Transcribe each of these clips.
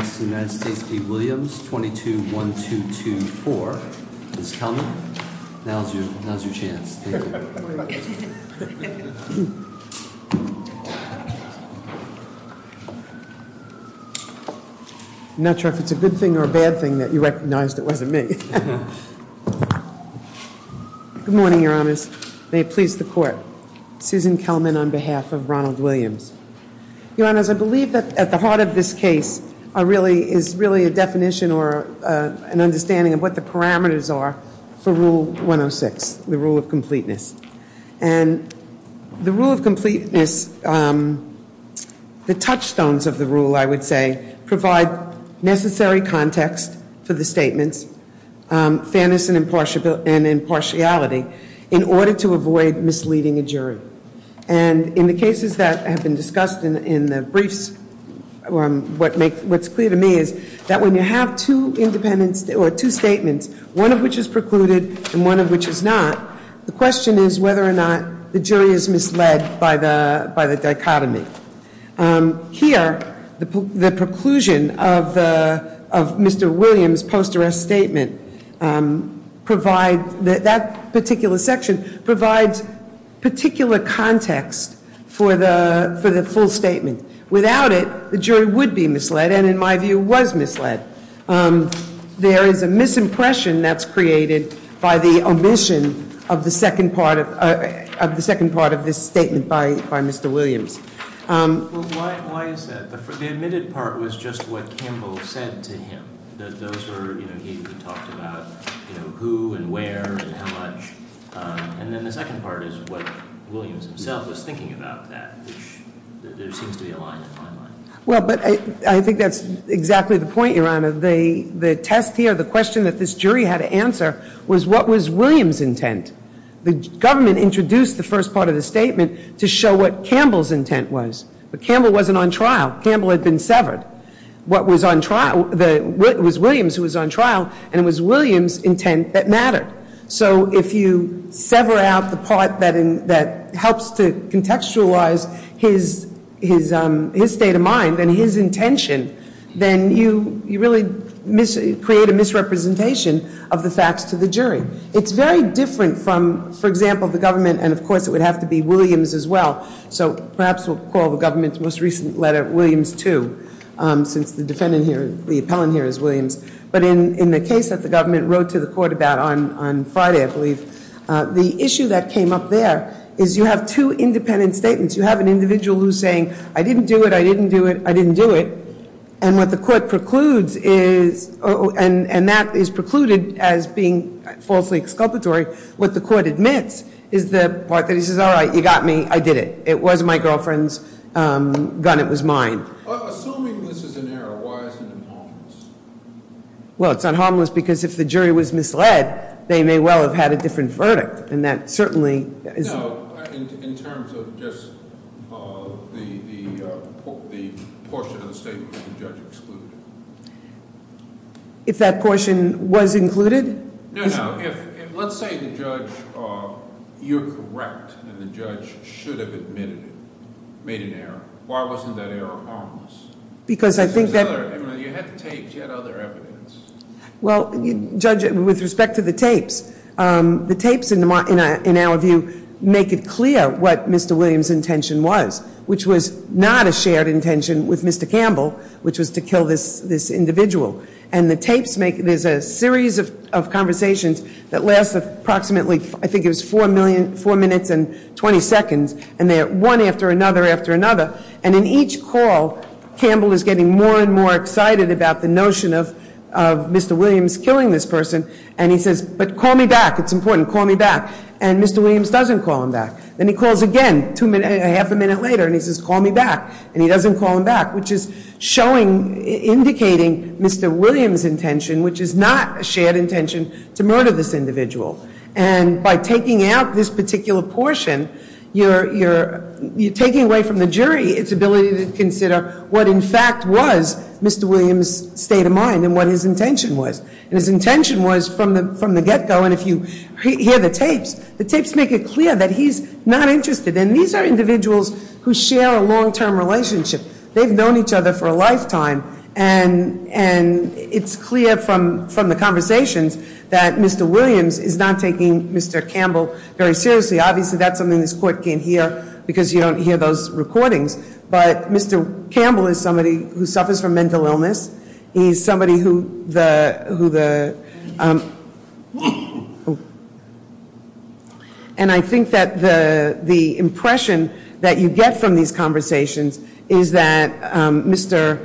v. Williams, 22-1224. Ms. Kelman, now's your chance. I'm not sure if it's a good thing or a bad thing that you recognized it wasn't me. Good morning, Your Honors. May it please the Court. Susan Kelman on behalf of Ronald Williams. Your Honors, I believe that at the heart of this case is really a definition or an understanding of what the parameters are for Rule 106, the rule of completeness. And the rule of completeness, the touchstones of the rule, I would say, provide necessary context for the statements, fairness and impartiality, in order to avoid misleading a jury. And in the cases that have been discussed in the briefs, what's clear to me is that when you have two statements, one of which is precluded and one of which is not, the question is whether or not the jury is misled by the dichotomy. Here, the preclusion of Mr. Williams' post-arrest statement, that particular section, provides particular context for the full statement. Without it, the jury would be misled and, in my view, was misled. There is a misimpression that's created by the omission of the second part of this statement by Mr. Williams. Well, why is that? The omitted part was just what Campbell said to him. Those were, you know, he talked about, you know, who and where and how much. And then the second part is what Williams himself was thinking about that, which there seems to be a line in the fine line. Well, but I think that's exactly the point, Your Honor. The test here, the question that this jury had to answer, was what was Williams' intent? The government introduced the first part of the statement to show what Campbell's intent was. But Campbell wasn't on trial. Campbell had been severed. What was on trial was Williams, who was on trial, and it was Williams' intent that mattered. So if you sever out the part that helps to contextualize his state of mind and his intention, then you really create a misrepresentation of the facts to the jury. It's very different from, for example, the government, and of course it would have to be Williams as well. So perhaps we'll call the government's most recent letter Williams 2, since the defendant here, the appellant here is Williams. But in the case that the government wrote to the court about on Friday, I believe, the issue that came up there is you have two independent statements. You have an individual who's saying, I didn't do it, I didn't do it, I didn't do it. And what the court precludes is, and that is precluded as being falsely exculpatory. What the court admits is the part that he says, all right, you got me, I did it. It was my girlfriend's gun, it was mine. Assuming this is an error, why isn't it harmless? Well, it's not harmless because if the jury was misled, they may well have had a different verdict. And that certainly is- No, in terms of just the portion of the statement that the judge excluded. If that portion was included? No, no. If, let's say the judge, you're correct, and the judge should have admitted it, made an error. Why wasn't that error harmless? Because I think that- You had the tapes, you had other evidence. Well, Judge, with respect to the tapes, the tapes, in our view, make it clear what Mr. Williams' intention was, which was not a shared intention with Mr. Campbell, which was to kill this individual. And the tapes make, there's a series of conversations that last approximately, I think it was 4 minutes and 20 seconds. And they're one after another after another. And in each call, Campbell is getting more and more excited about the notion of Mr. Williams killing this person. And he says, but call me back, it's important, call me back. And Mr. Williams doesn't call him back. Then he calls again, a half a minute later, and he says, call me back. And he doesn't call him back, which is showing, indicating Mr. Williams' intention, which is not a shared intention, to murder this individual. And by taking out this particular portion, you're taking away from the jury its ability to consider what, in fact, was Mr. Williams' state of mind and what his intention was. And his intention was, from the get-go, and if you hear the tapes, the tapes make it clear that he's not interested. And these are individuals who share a long-term relationship. They've known each other for a lifetime. And it's clear from the conversations that Mr. Williams is not taking Mr. Campbell very seriously. Obviously, that's something this court can't hear because you don't hear those recordings. But Mr. Campbell is somebody who suffers from mental illness. He's somebody who the, and I think that the impression that you get from these conversations is that Mr.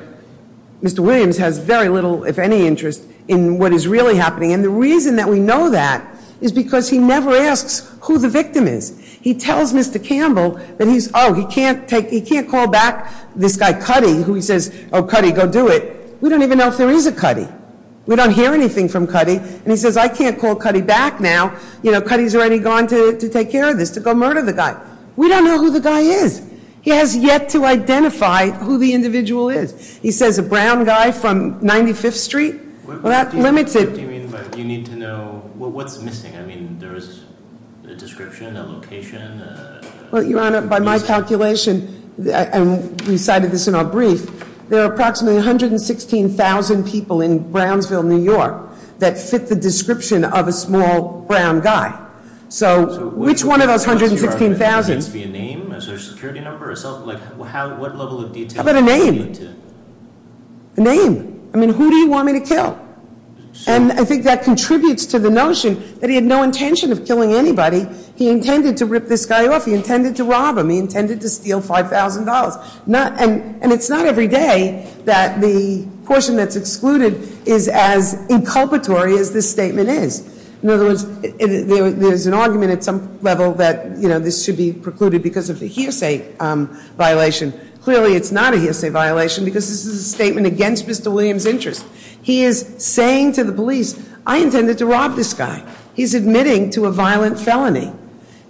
Williams has very little, if any, interest in what is really happening. And the reason that we know that is because he never asks who the victim is. He tells Mr. Campbell that he's, oh, he can't call back this guy, Cuddy, who he says, oh, Cuddy, go do it. We don't even know if there is a Cuddy. We don't hear anything from Cuddy. And he says, I can't call Cuddy back now. You know, Cuddy's already gone to take care of this, to go murder the guy. We don't know who the guy is. He has yet to identify who the individual is. He says a brown guy from 95th Street. Well, that limits it. What do you mean by you need to know, well, what's missing? I mean, there is a description, a location. Well, Your Honor, by my calculation, and we cited this in our brief, there are approximately 116,000 people in Brownsville, New York, that fit the description of a small brown guy. So, which one of those 116,000- So, Your Honor, does it need to be a name, a social security number, or something like that? What level of detail do you need to- How about a name? A name. I mean, who do you want me to kill? And I think that contributes to the notion that he had no intention of killing anybody. He intended to rip this guy off. He intended to rob him. He intended to steal $5,000. And it's not every day that the portion that's excluded is as inculpatory as this statement is. In other words, there's an argument at some level that, you know, this should be precluded because of the hearsay violation. Clearly, it's not a hearsay violation because this is a statement against Mr. Williams' interest. He is saying to the police, I intended to rob this guy. He's admitting to a violent felony.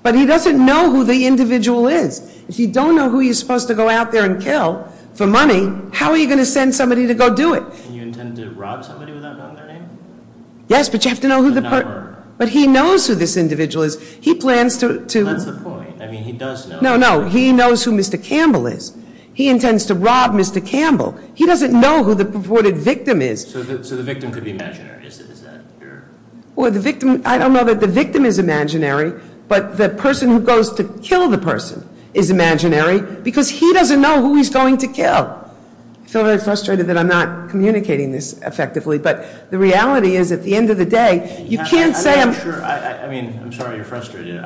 But he doesn't know who the individual is. If you don't know who you're supposed to go out there and kill for money, how are you going to send somebody to go do it? And you intended to rob somebody without knowing their name? Yes, but you have to know who the per- But not her. But he knows who this individual is. He plans to- That's the point. I mean, he does know- No, no. He knows who Mr. Campbell is. He intends to rob Mr. Campbell. He doesn't know who the reported victim is. So the victim could be imaginary? Is that your- Well, the victim- I don't know that the victim is imaginary, but the person who goes to kill the person is imaginary because he doesn't know who he's going to kill. I feel very frustrated that I'm not communicating this effectively. But the reality is, at the end of the day, you can't say I'm- Sure. I mean, I'm sorry you're frustrated.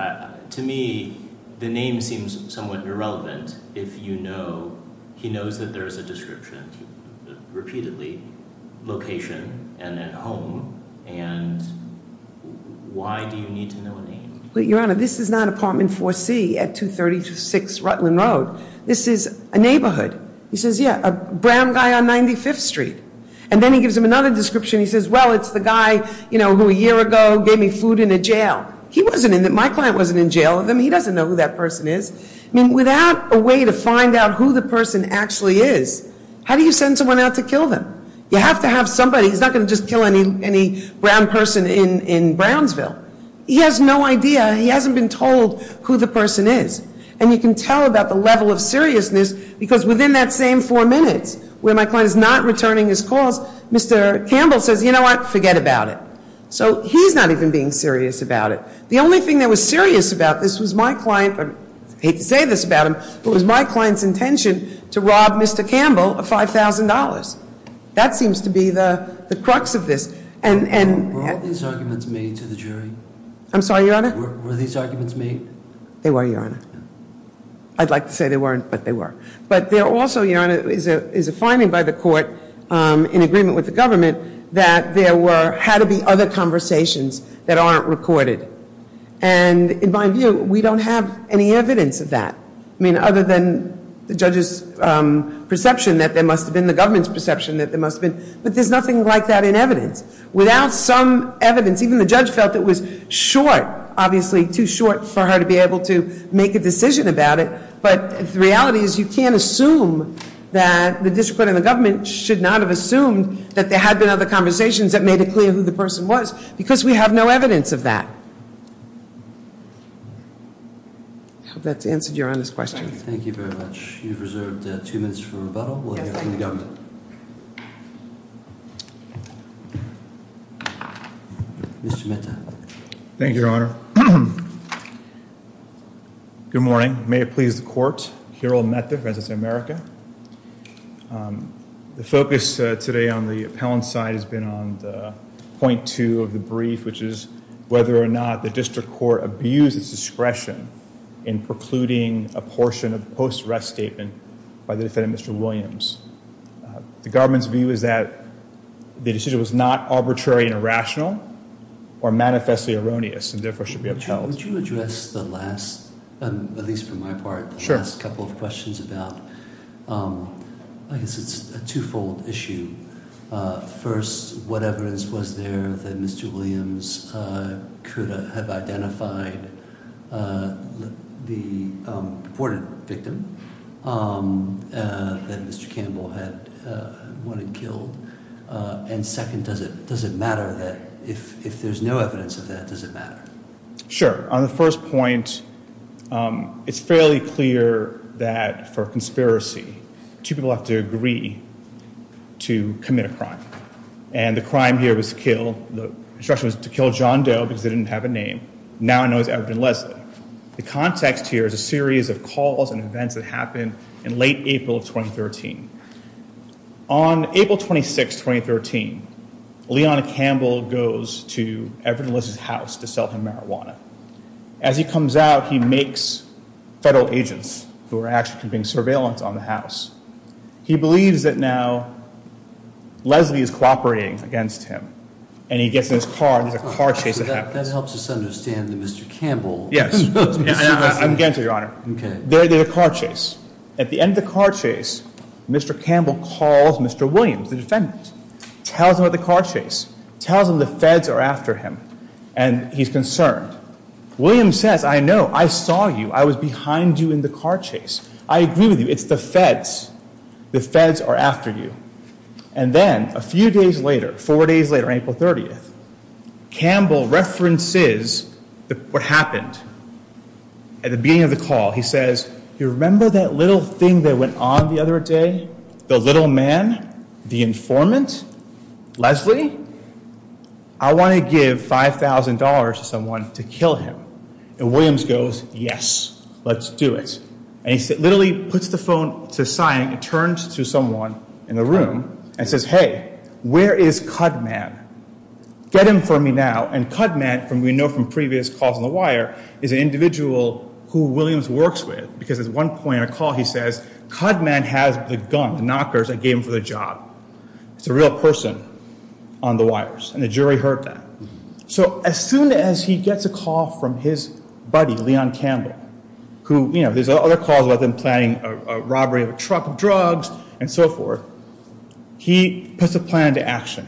To me, the name seems somewhat irrelevant if you know- He knows that there is a description, repeatedly, location and at home. And why do you need to know a name? Your Honor, this is not apartment 4C at 236 Rutland Road. This is a neighborhood. He says, yeah, a brown guy on 95th Street. And then he gives him another description. He says, well, it's the guy, you know, who a year ago gave me food in a jail. He wasn't in- My client wasn't in jail. I mean, he doesn't know who that person is. I mean, without a way to find out who the person actually is, how do you send someone out to kill them? You have to have somebody. He's not going to just kill any brown person in Brownsville. He has no idea. He hasn't been told who the person is. And you can tell about the level of seriousness because within that same four minutes where my client is not returning his calls, Mr. Campbell says, you know what? Forget about it. So he's not even being serious about it. The only thing that was serious about this was my client. I hate to say this about him, but it was my client's intention to rob Mr. Campbell of $5,000. That seems to be the crux of this. And- Were all these arguments made to the jury? I'm sorry, Your Honor? Were these arguments made? They were, Your Honor. I'd like to say they weren't, but they were. But there also, Your Honor, is a finding by the court in agreement with the government that there had to be other conversations that aren't recorded. And in my view, we don't have any evidence of that. I mean, other than the judge's perception that there must have been, the government's perception that there must have been. But there's nothing like that in evidence. Without some evidence, even the judge felt it was short, obviously too short for her to be able to make a decision about it. But the reality is you can't assume that the district court and the government should not have assumed that there had been other conversations that made it clear who the person was. Because we have no evidence of that. I hope that's answered Your Honor's question. Thank you very much. You've reserved two minutes for rebuttal. We'll hear from the government. Mr. Mehta. Thank you, Your Honor. Good morning. May it please the court. Hirold Mehta, Defendants of America. The focus today on the appellant side has been on the point two of the brief, which is whether or not the district court abused its discretion in precluding a portion of the post-arrest statement by the defendant, Mr. Williams. The government's view is that the decision was not arbitrary and irrational or manifestly erroneous and therefore should be upheld. Would you address the last, at least for my part, the last couple of questions about, I guess it's a two-fold issue. First, what evidence was there that Mr. Williams could have identified the reported victim? That Mr. Campbell had wanted killed? And second, does it matter that if there's no evidence of that, does it matter? Sure. On the first point, it's fairly clear that for a conspiracy, two people have to agree to commit a crime. And the crime here was to kill, the instruction was to kill John Doe because they didn't have a name. Now I know it's Everton Leslie. The context here is a series of calls and events that happened in late April of 2013. On April 26, 2013, Leona Campbell goes to Everton Leslie's house to sell him marijuana. As he comes out, he makes federal agents who are actually keeping surveillance on the house. He believes that now Leslie is cooperating against him. And he gets in his car and there's a car chase that happens. All right, that helps us understand that Mr. Campbell. Yes. I'm going to answer, Your Honor. Okay. There's a car chase. At the end of the car chase, Mr. Campbell calls Mr. Williams, the defendant. Tells him about the car chase. Tells him the feds are after him and he's concerned. Williams says, I know, I saw you. I was behind you in the car chase. I agree with you. It's the feds. The feds are after you. And then a few days later, four days later, April 30th, Campbell references what happened at the beginning of the call. He says, you remember that little thing that went on the other day? The little man? The informant? Leslie? I want to give $5,000 to someone to kill him. And Williams goes, yes, let's do it. And he literally puts the phone to sign and turns to someone in the room and says, hey, where is Cudman? Get him for me now. And Cudman, we know from previous calls on the wire, is an individual who Williams works with. Because at one point in a call he says, Cudman has the gun, the knockers that gave him for the job. It's a real person on the wires. And the jury heard that. So as soon as he gets a call from his buddy, Leon Campbell, who, you know, there's other calls about them planning a robbery of a truck of drugs and so forth. He puts a plan into action.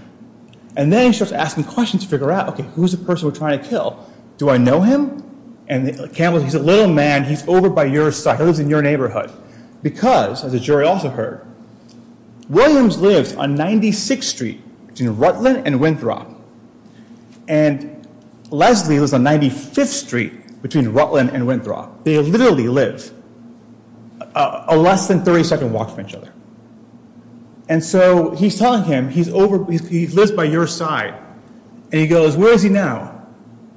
And then he starts asking questions to figure out, okay, who's the person we're trying to kill? Do I know him? And Campbell, he's a little man. He's over by your side. He lives in your neighborhood. Because, as the jury also heard, Williams lives on 96th Street between Rutland and Winthrop. And Leslie lives on 95th Street between Rutland and Winthrop. They literally live a less than 30-second walk from each other. And so he's telling him, he lives by your side. And he goes, where is he now?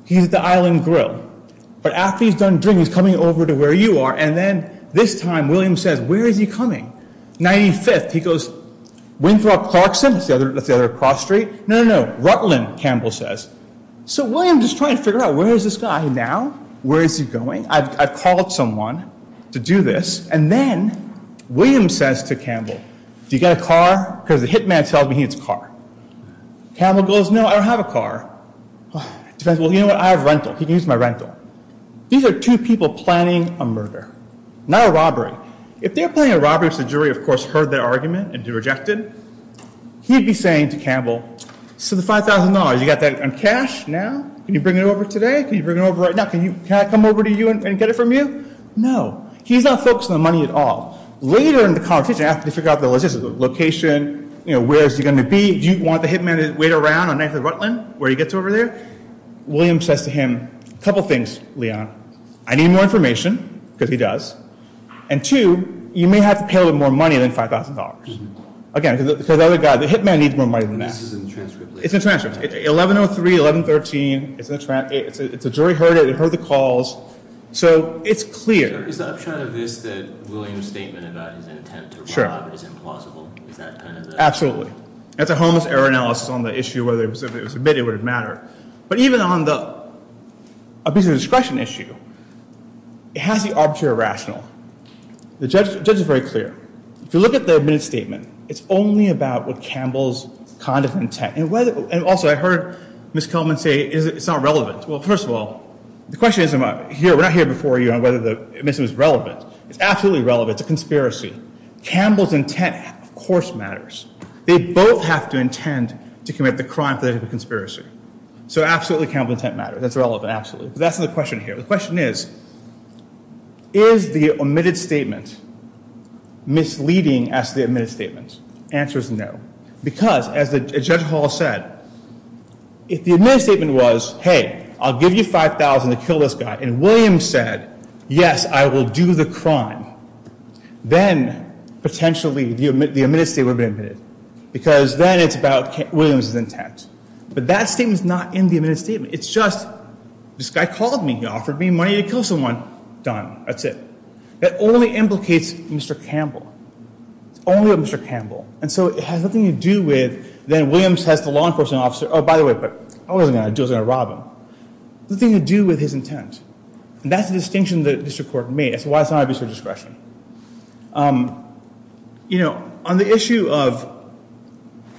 He's at the Island Grill. But after he's done drinking, he's coming over to where you are. And then this time, Williams says, where is he coming? 95th. He goes, Winthrop Clarkson? That's the other cross street. No, no, no. Rutland, Campbell says. So Williams is trying to figure out, where is this guy now? Where is he going? I've called someone to do this. And then Williams says to Campbell, do you got a car? Because the hitman tells me he needs a car. Campbell goes, no, I don't have a car. He says, well, you know what, I have rental. He can use my rental. These are two people planning a murder, not a robbery. If they're planning a robbery because the jury, of course, heard their argument and rejected, he'd be saying to Campbell, so the $5,000, you got that in cash now? Can you bring it over today? Can you bring it over right now? Can I come over to you and get it from you? No. He's not focused on the money at all. Later in the conversation, after they figure out the location, where is he going to be? Do you want the hitman to wait around on 9th and Rutland, where he gets over there? Williams says to him, a couple things, Leon. I need more information, because he does. And two, you may have to pay a little bit more money than $5,000. Again, because the other guy, the hitman needs more money than this. It's a transcript. It's 1103, 1113. It's a jury heard it. It heard the calls. So it's clear. Is the upshot of this that Williams' statement about his intent to rob is implausible? Absolutely. That's a homeless error analysis on the issue of whether it was admitted or whether it mattered. But even on the abuse of discretion issue, it has the arbitrary rational. The judge is very clear. If you look at the admitted statement, it's only about what Campbell's conduct and intent. And also, I heard Ms. Kelman say it's not relevant. Well, first of all, the question isn't about here. We're not here before you on whether the admission is relevant. It's absolutely relevant. It's a conspiracy. Campbell's intent, of course, matters. They both have to intend to commit the crime for the conspiracy. So, absolutely, Campbell's intent matters. That's relevant, absolutely. But that's not the question here. The question is, is the admitted statement misleading as to the admitted statement? The answer is no. Because, as Judge Hall said, if the admitted statement was, hey, I'll give you $5,000 to kill this guy, and Williams said, yes, I will do the crime, then, potentially, the admitted statement would have been admitted. Because then it's about Williams' intent. But that statement's not in the admitted statement. It's just, this guy called me. He offered me money to kill someone. Done. That's it. That only implicates Mr. Campbell. It's only about Mr. Campbell. And so it has nothing to do with, then Williams has the law enforcement officer, oh, by the way, I wasn't going to do it. I wasn't going to rob him. Nothing to do with his intent. And that's the distinction the district court made. It's why it's not an abuse of discretion. You know, on the issue of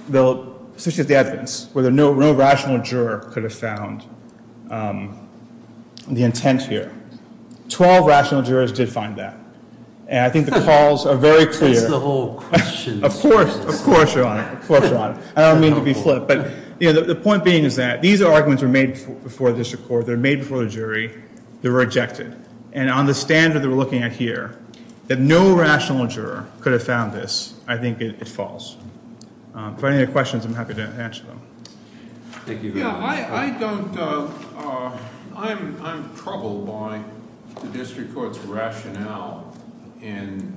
the evidence, whether no rational juror could have found the intent here, 12 rational jurors did find that. And I think the calls are very clear. That's the whole question. Of course. Of course you're on it. Of course you're on it. I don't mean to be flip. But, you know, the point being is that these arguments were made before the district court. They were made before the jury. They were rejected. And on the standard that we're looking at here, that no rational juror could have found this, I think it's false. If I have any questions, I'm happy to answer them. Thank you very much. Yeah, I don't, I'm troubled by the district court's rationale in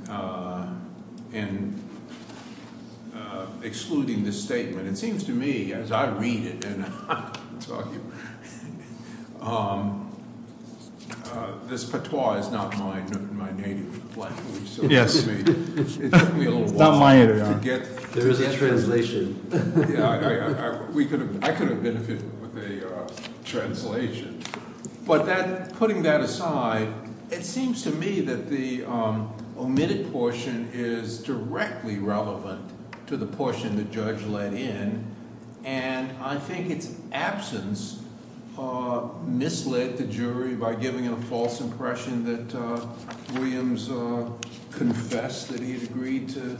excluding this statement. It seems to me, as I read it, and I'm talking, this patois is not my native language. Yes. It took me a little while. It's not my internet. There is a translation. Yeah, I could have benefited with a translation. But that, putting that aside, it seems to me that the omitted portion is directly relevant to the portion the judge let in. And I think its absence misled the jury by giving a false impression that Williams confessed that he had agreed to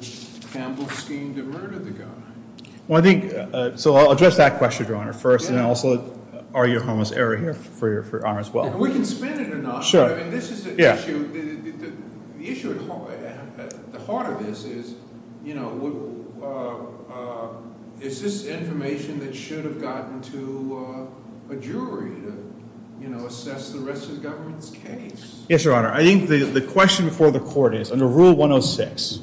Campbell's scheme to murder the guy. Well, I think, so I'll address that question, Your Honor, first. And also, are you harmless error here for Your Honor as well? We can spin it or not. Sure. I mean, this is the issue. The issue at the heart of this is, you know, is this information that should have gotten to a jury to, you know, assess the rest of the government's case? Yes, Your Honor. I think the question before the court is, under Rule 106,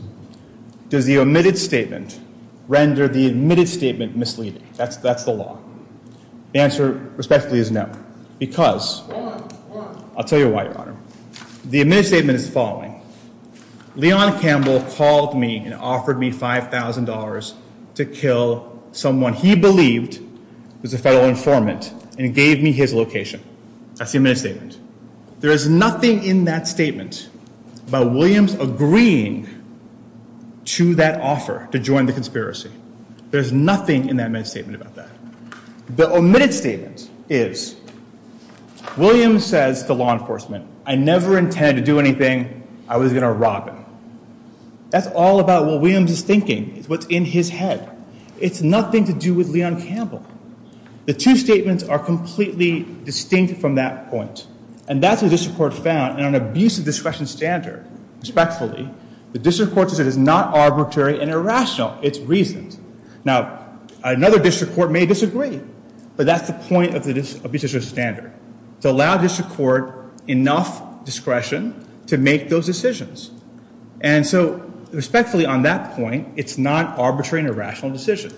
does the omitted statement render the admitted statement misleading? That's the law. The answer, respectively, is no, because I'll tell you why, Your Honor. The omitted statement is the following. Leon Campbell called me and offered me $5,000 to kill someone he believed was a federal informant and gave me his location. That's the omitted statement. There is nothing in that statement about Williams agreeing to that offer to join the conspiracy. There's nothing in that admitted statement about that. The omitted statement is Williams says to law enforcement, I never intended to do anything. I was going to rob him. That's all about what Williams is thinking. It's what's in his head. It's nothing to do with Leon Campbell. The two statements are completely distinct from that point, and that's what the district court found. And on an abuse of discretion standard, respectfully, the district court says it is not arbitrary and irrational. It's reasoned. Now, another district court may disagree, but that's the point of the abuse of discretion standard, to allow district court enough discretion to make those decisions. And so, respectfully, on that point, it's not an arbitrary and irrational decision.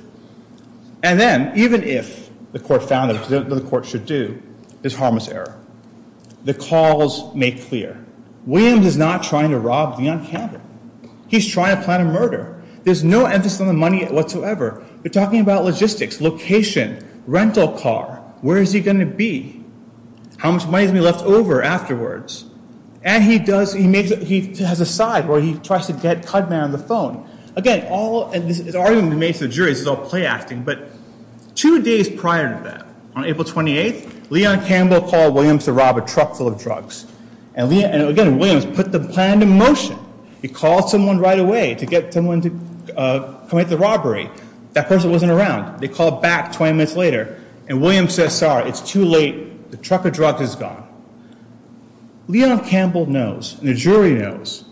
And then, even if the court found it, which the court should do, it's harmless error. The calls make clear. Williams is not trying to rob Leon Campbell. He's trying to plan a murder. There's no emphasis on the money whatsoever. They're talking about logistics, location, rental car. Where is he going to be? How much money is going to be left over afterwards? And he has a side where he tries to get Cudman on the phone. Again, all of this is argument made to the jury. This is all play acting. But two days prior to that, on April 28th, Leon Campbell called Williams to rob a truck full of drugs. And, again, Williams put the plan into motion. He called someone right away to get someone to commit the robbery. That person wasn't around. They called back 20 minutes later, and Williams said, sorry, it's too late. The truck of drugs is gone. Leon Campbell knows, and the jury knows,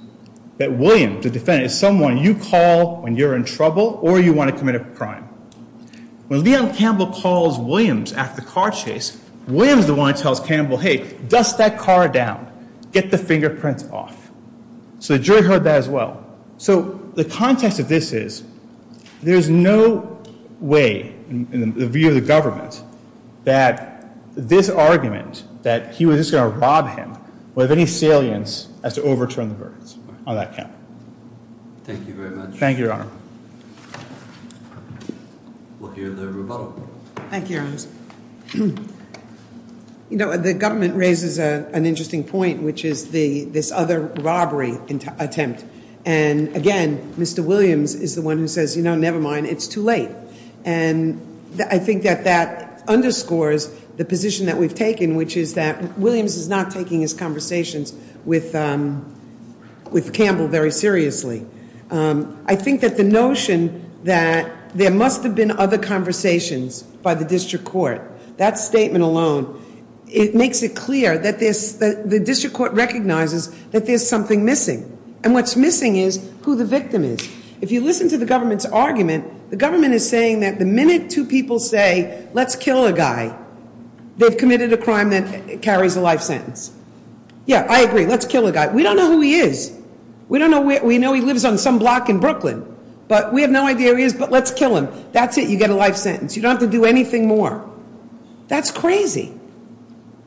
that Williams, the defendant, is someone you call when you're in trouble or you want to commit a crime. When Leon Campbell calls Williams after the car chase, Williams is the one that tells Campbell, hey, dust that car down. Get the fingerprints off. So the jury heard that as well. So the context of this is there's no way in the view of the government that this argument that he was just going to rob him would have any salience as to overturn the verdicts on that count. Thank you very much. Thank you, Your Honor. Thank you, Your Honor. You know, the government raises an interesting point, which is this other robbery attempt. And, again, Mr. Williams is the one who says, you know, never mind, it's too late. And I think that that underscores the position that we've taken, which is that Williams is not taking his conversations with Campbell very seriously. I think that the notion that there must have been other conversations by the district court, that statement alone, it makes it clear that the district court recognizes that there's something missing. And what's missing is who the victim is. If you listen to the government's argument, the government is saying that the minute two people say, let's kill a guy, they've committed a crime that carries a life sentence. Yeah, I agree, let's kill a guy. We don't know who he is. We know he lives on some block in Brooklyn. But we have no idea who he is, but let's kill him. That's it, you get a life sentence. You don't have to do anything more. That's crazy.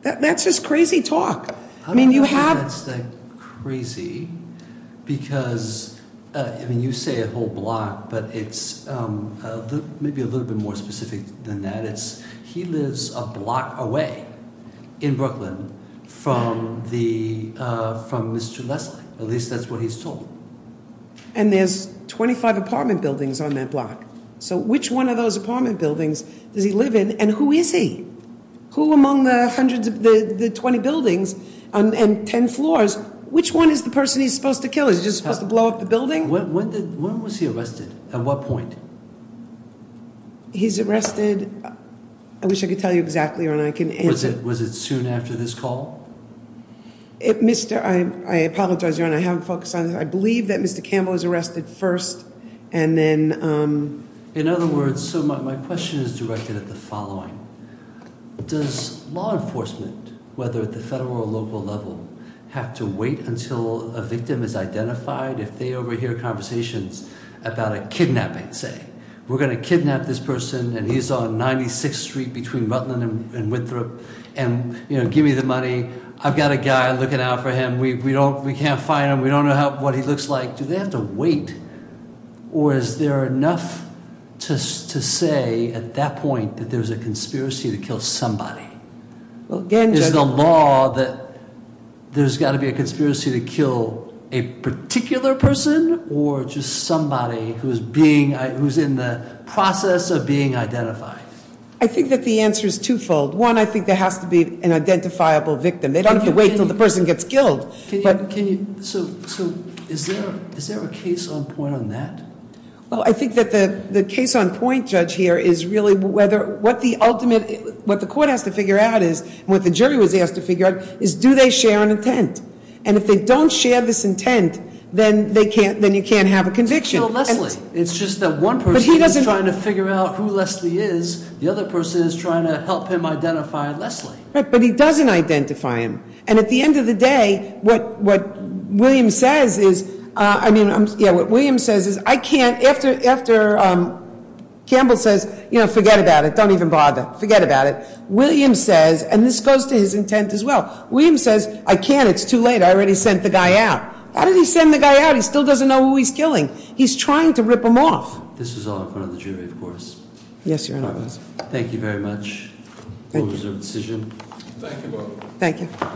That's just crazy talk. I mean, you have- I don't know if that's crazy, because, I mean, you say a whole block, but it's maybe a little bit more specific than that. He lives a block away in Brooklyn from Mr. Leslie. At least that's what he's told. And there's 25 apartment buildings on that block. So which one of those apartment buildings does he live in, and who is he? Who among the 20 buildings and 10 floors, which one is the person he's supposed to kill? Is he just supposed to blow up the building? When was he arrested? At what point? He's arrested, I wish I could tell you exactly, Your Honor. Was it soon after this call? I apologize, Your Honor, I haven't focused on it. I believe that Mr. Campbell was arrested first, and then- In other words, so my question is directed at the following. Does law enforcement, whether at the federal or local level, have to wait until a victim is identified if they overhear conversations about a kidnapping, say, we're going to kidnap this person, and he's on 96th Street between Rutland and Winthrop, and give me the money, I've got a guy looking out for him, we can't find him, we don't know what he looks like. Do they have to wait, or is there enough to say at that point that there's a conspiracy to kill somebody? Is the law that there's got to be a conspiracy to kill a particular person, or just somebody who's in the process of being identified? I think that the answer is twofold. One, I think there has to be an identifiable victim. They don't have to wait until the person gets killed. So, is there a case on point on that? Well, I think that the case on point, Judge, here is really what the court has to figure out is, and what the jury was asked to figure out, is do they share an intent? And if they don't share this intent, then you can't have a conviction. To kill Leslie. It's just that one person is trying to figure out who Leslie is. The other person is trying to help him identify Leslie. Right, but he doesn't identify him. And at the end of the day, what William says is, I mean, yeah, what William says is, I can't, after Campbell says, forget about it, don't even bother, forget about it. William says, and this goes to his intent as well. William says, I can't, it's too late, I already sent the guy out. How did he send the guy out? He still doesn't know who he's killing. He's trying to rip him off. This is all in front of the jury, of course. Yes, Your Honor. Thank you very much. Thank you. Thank you. Thank you.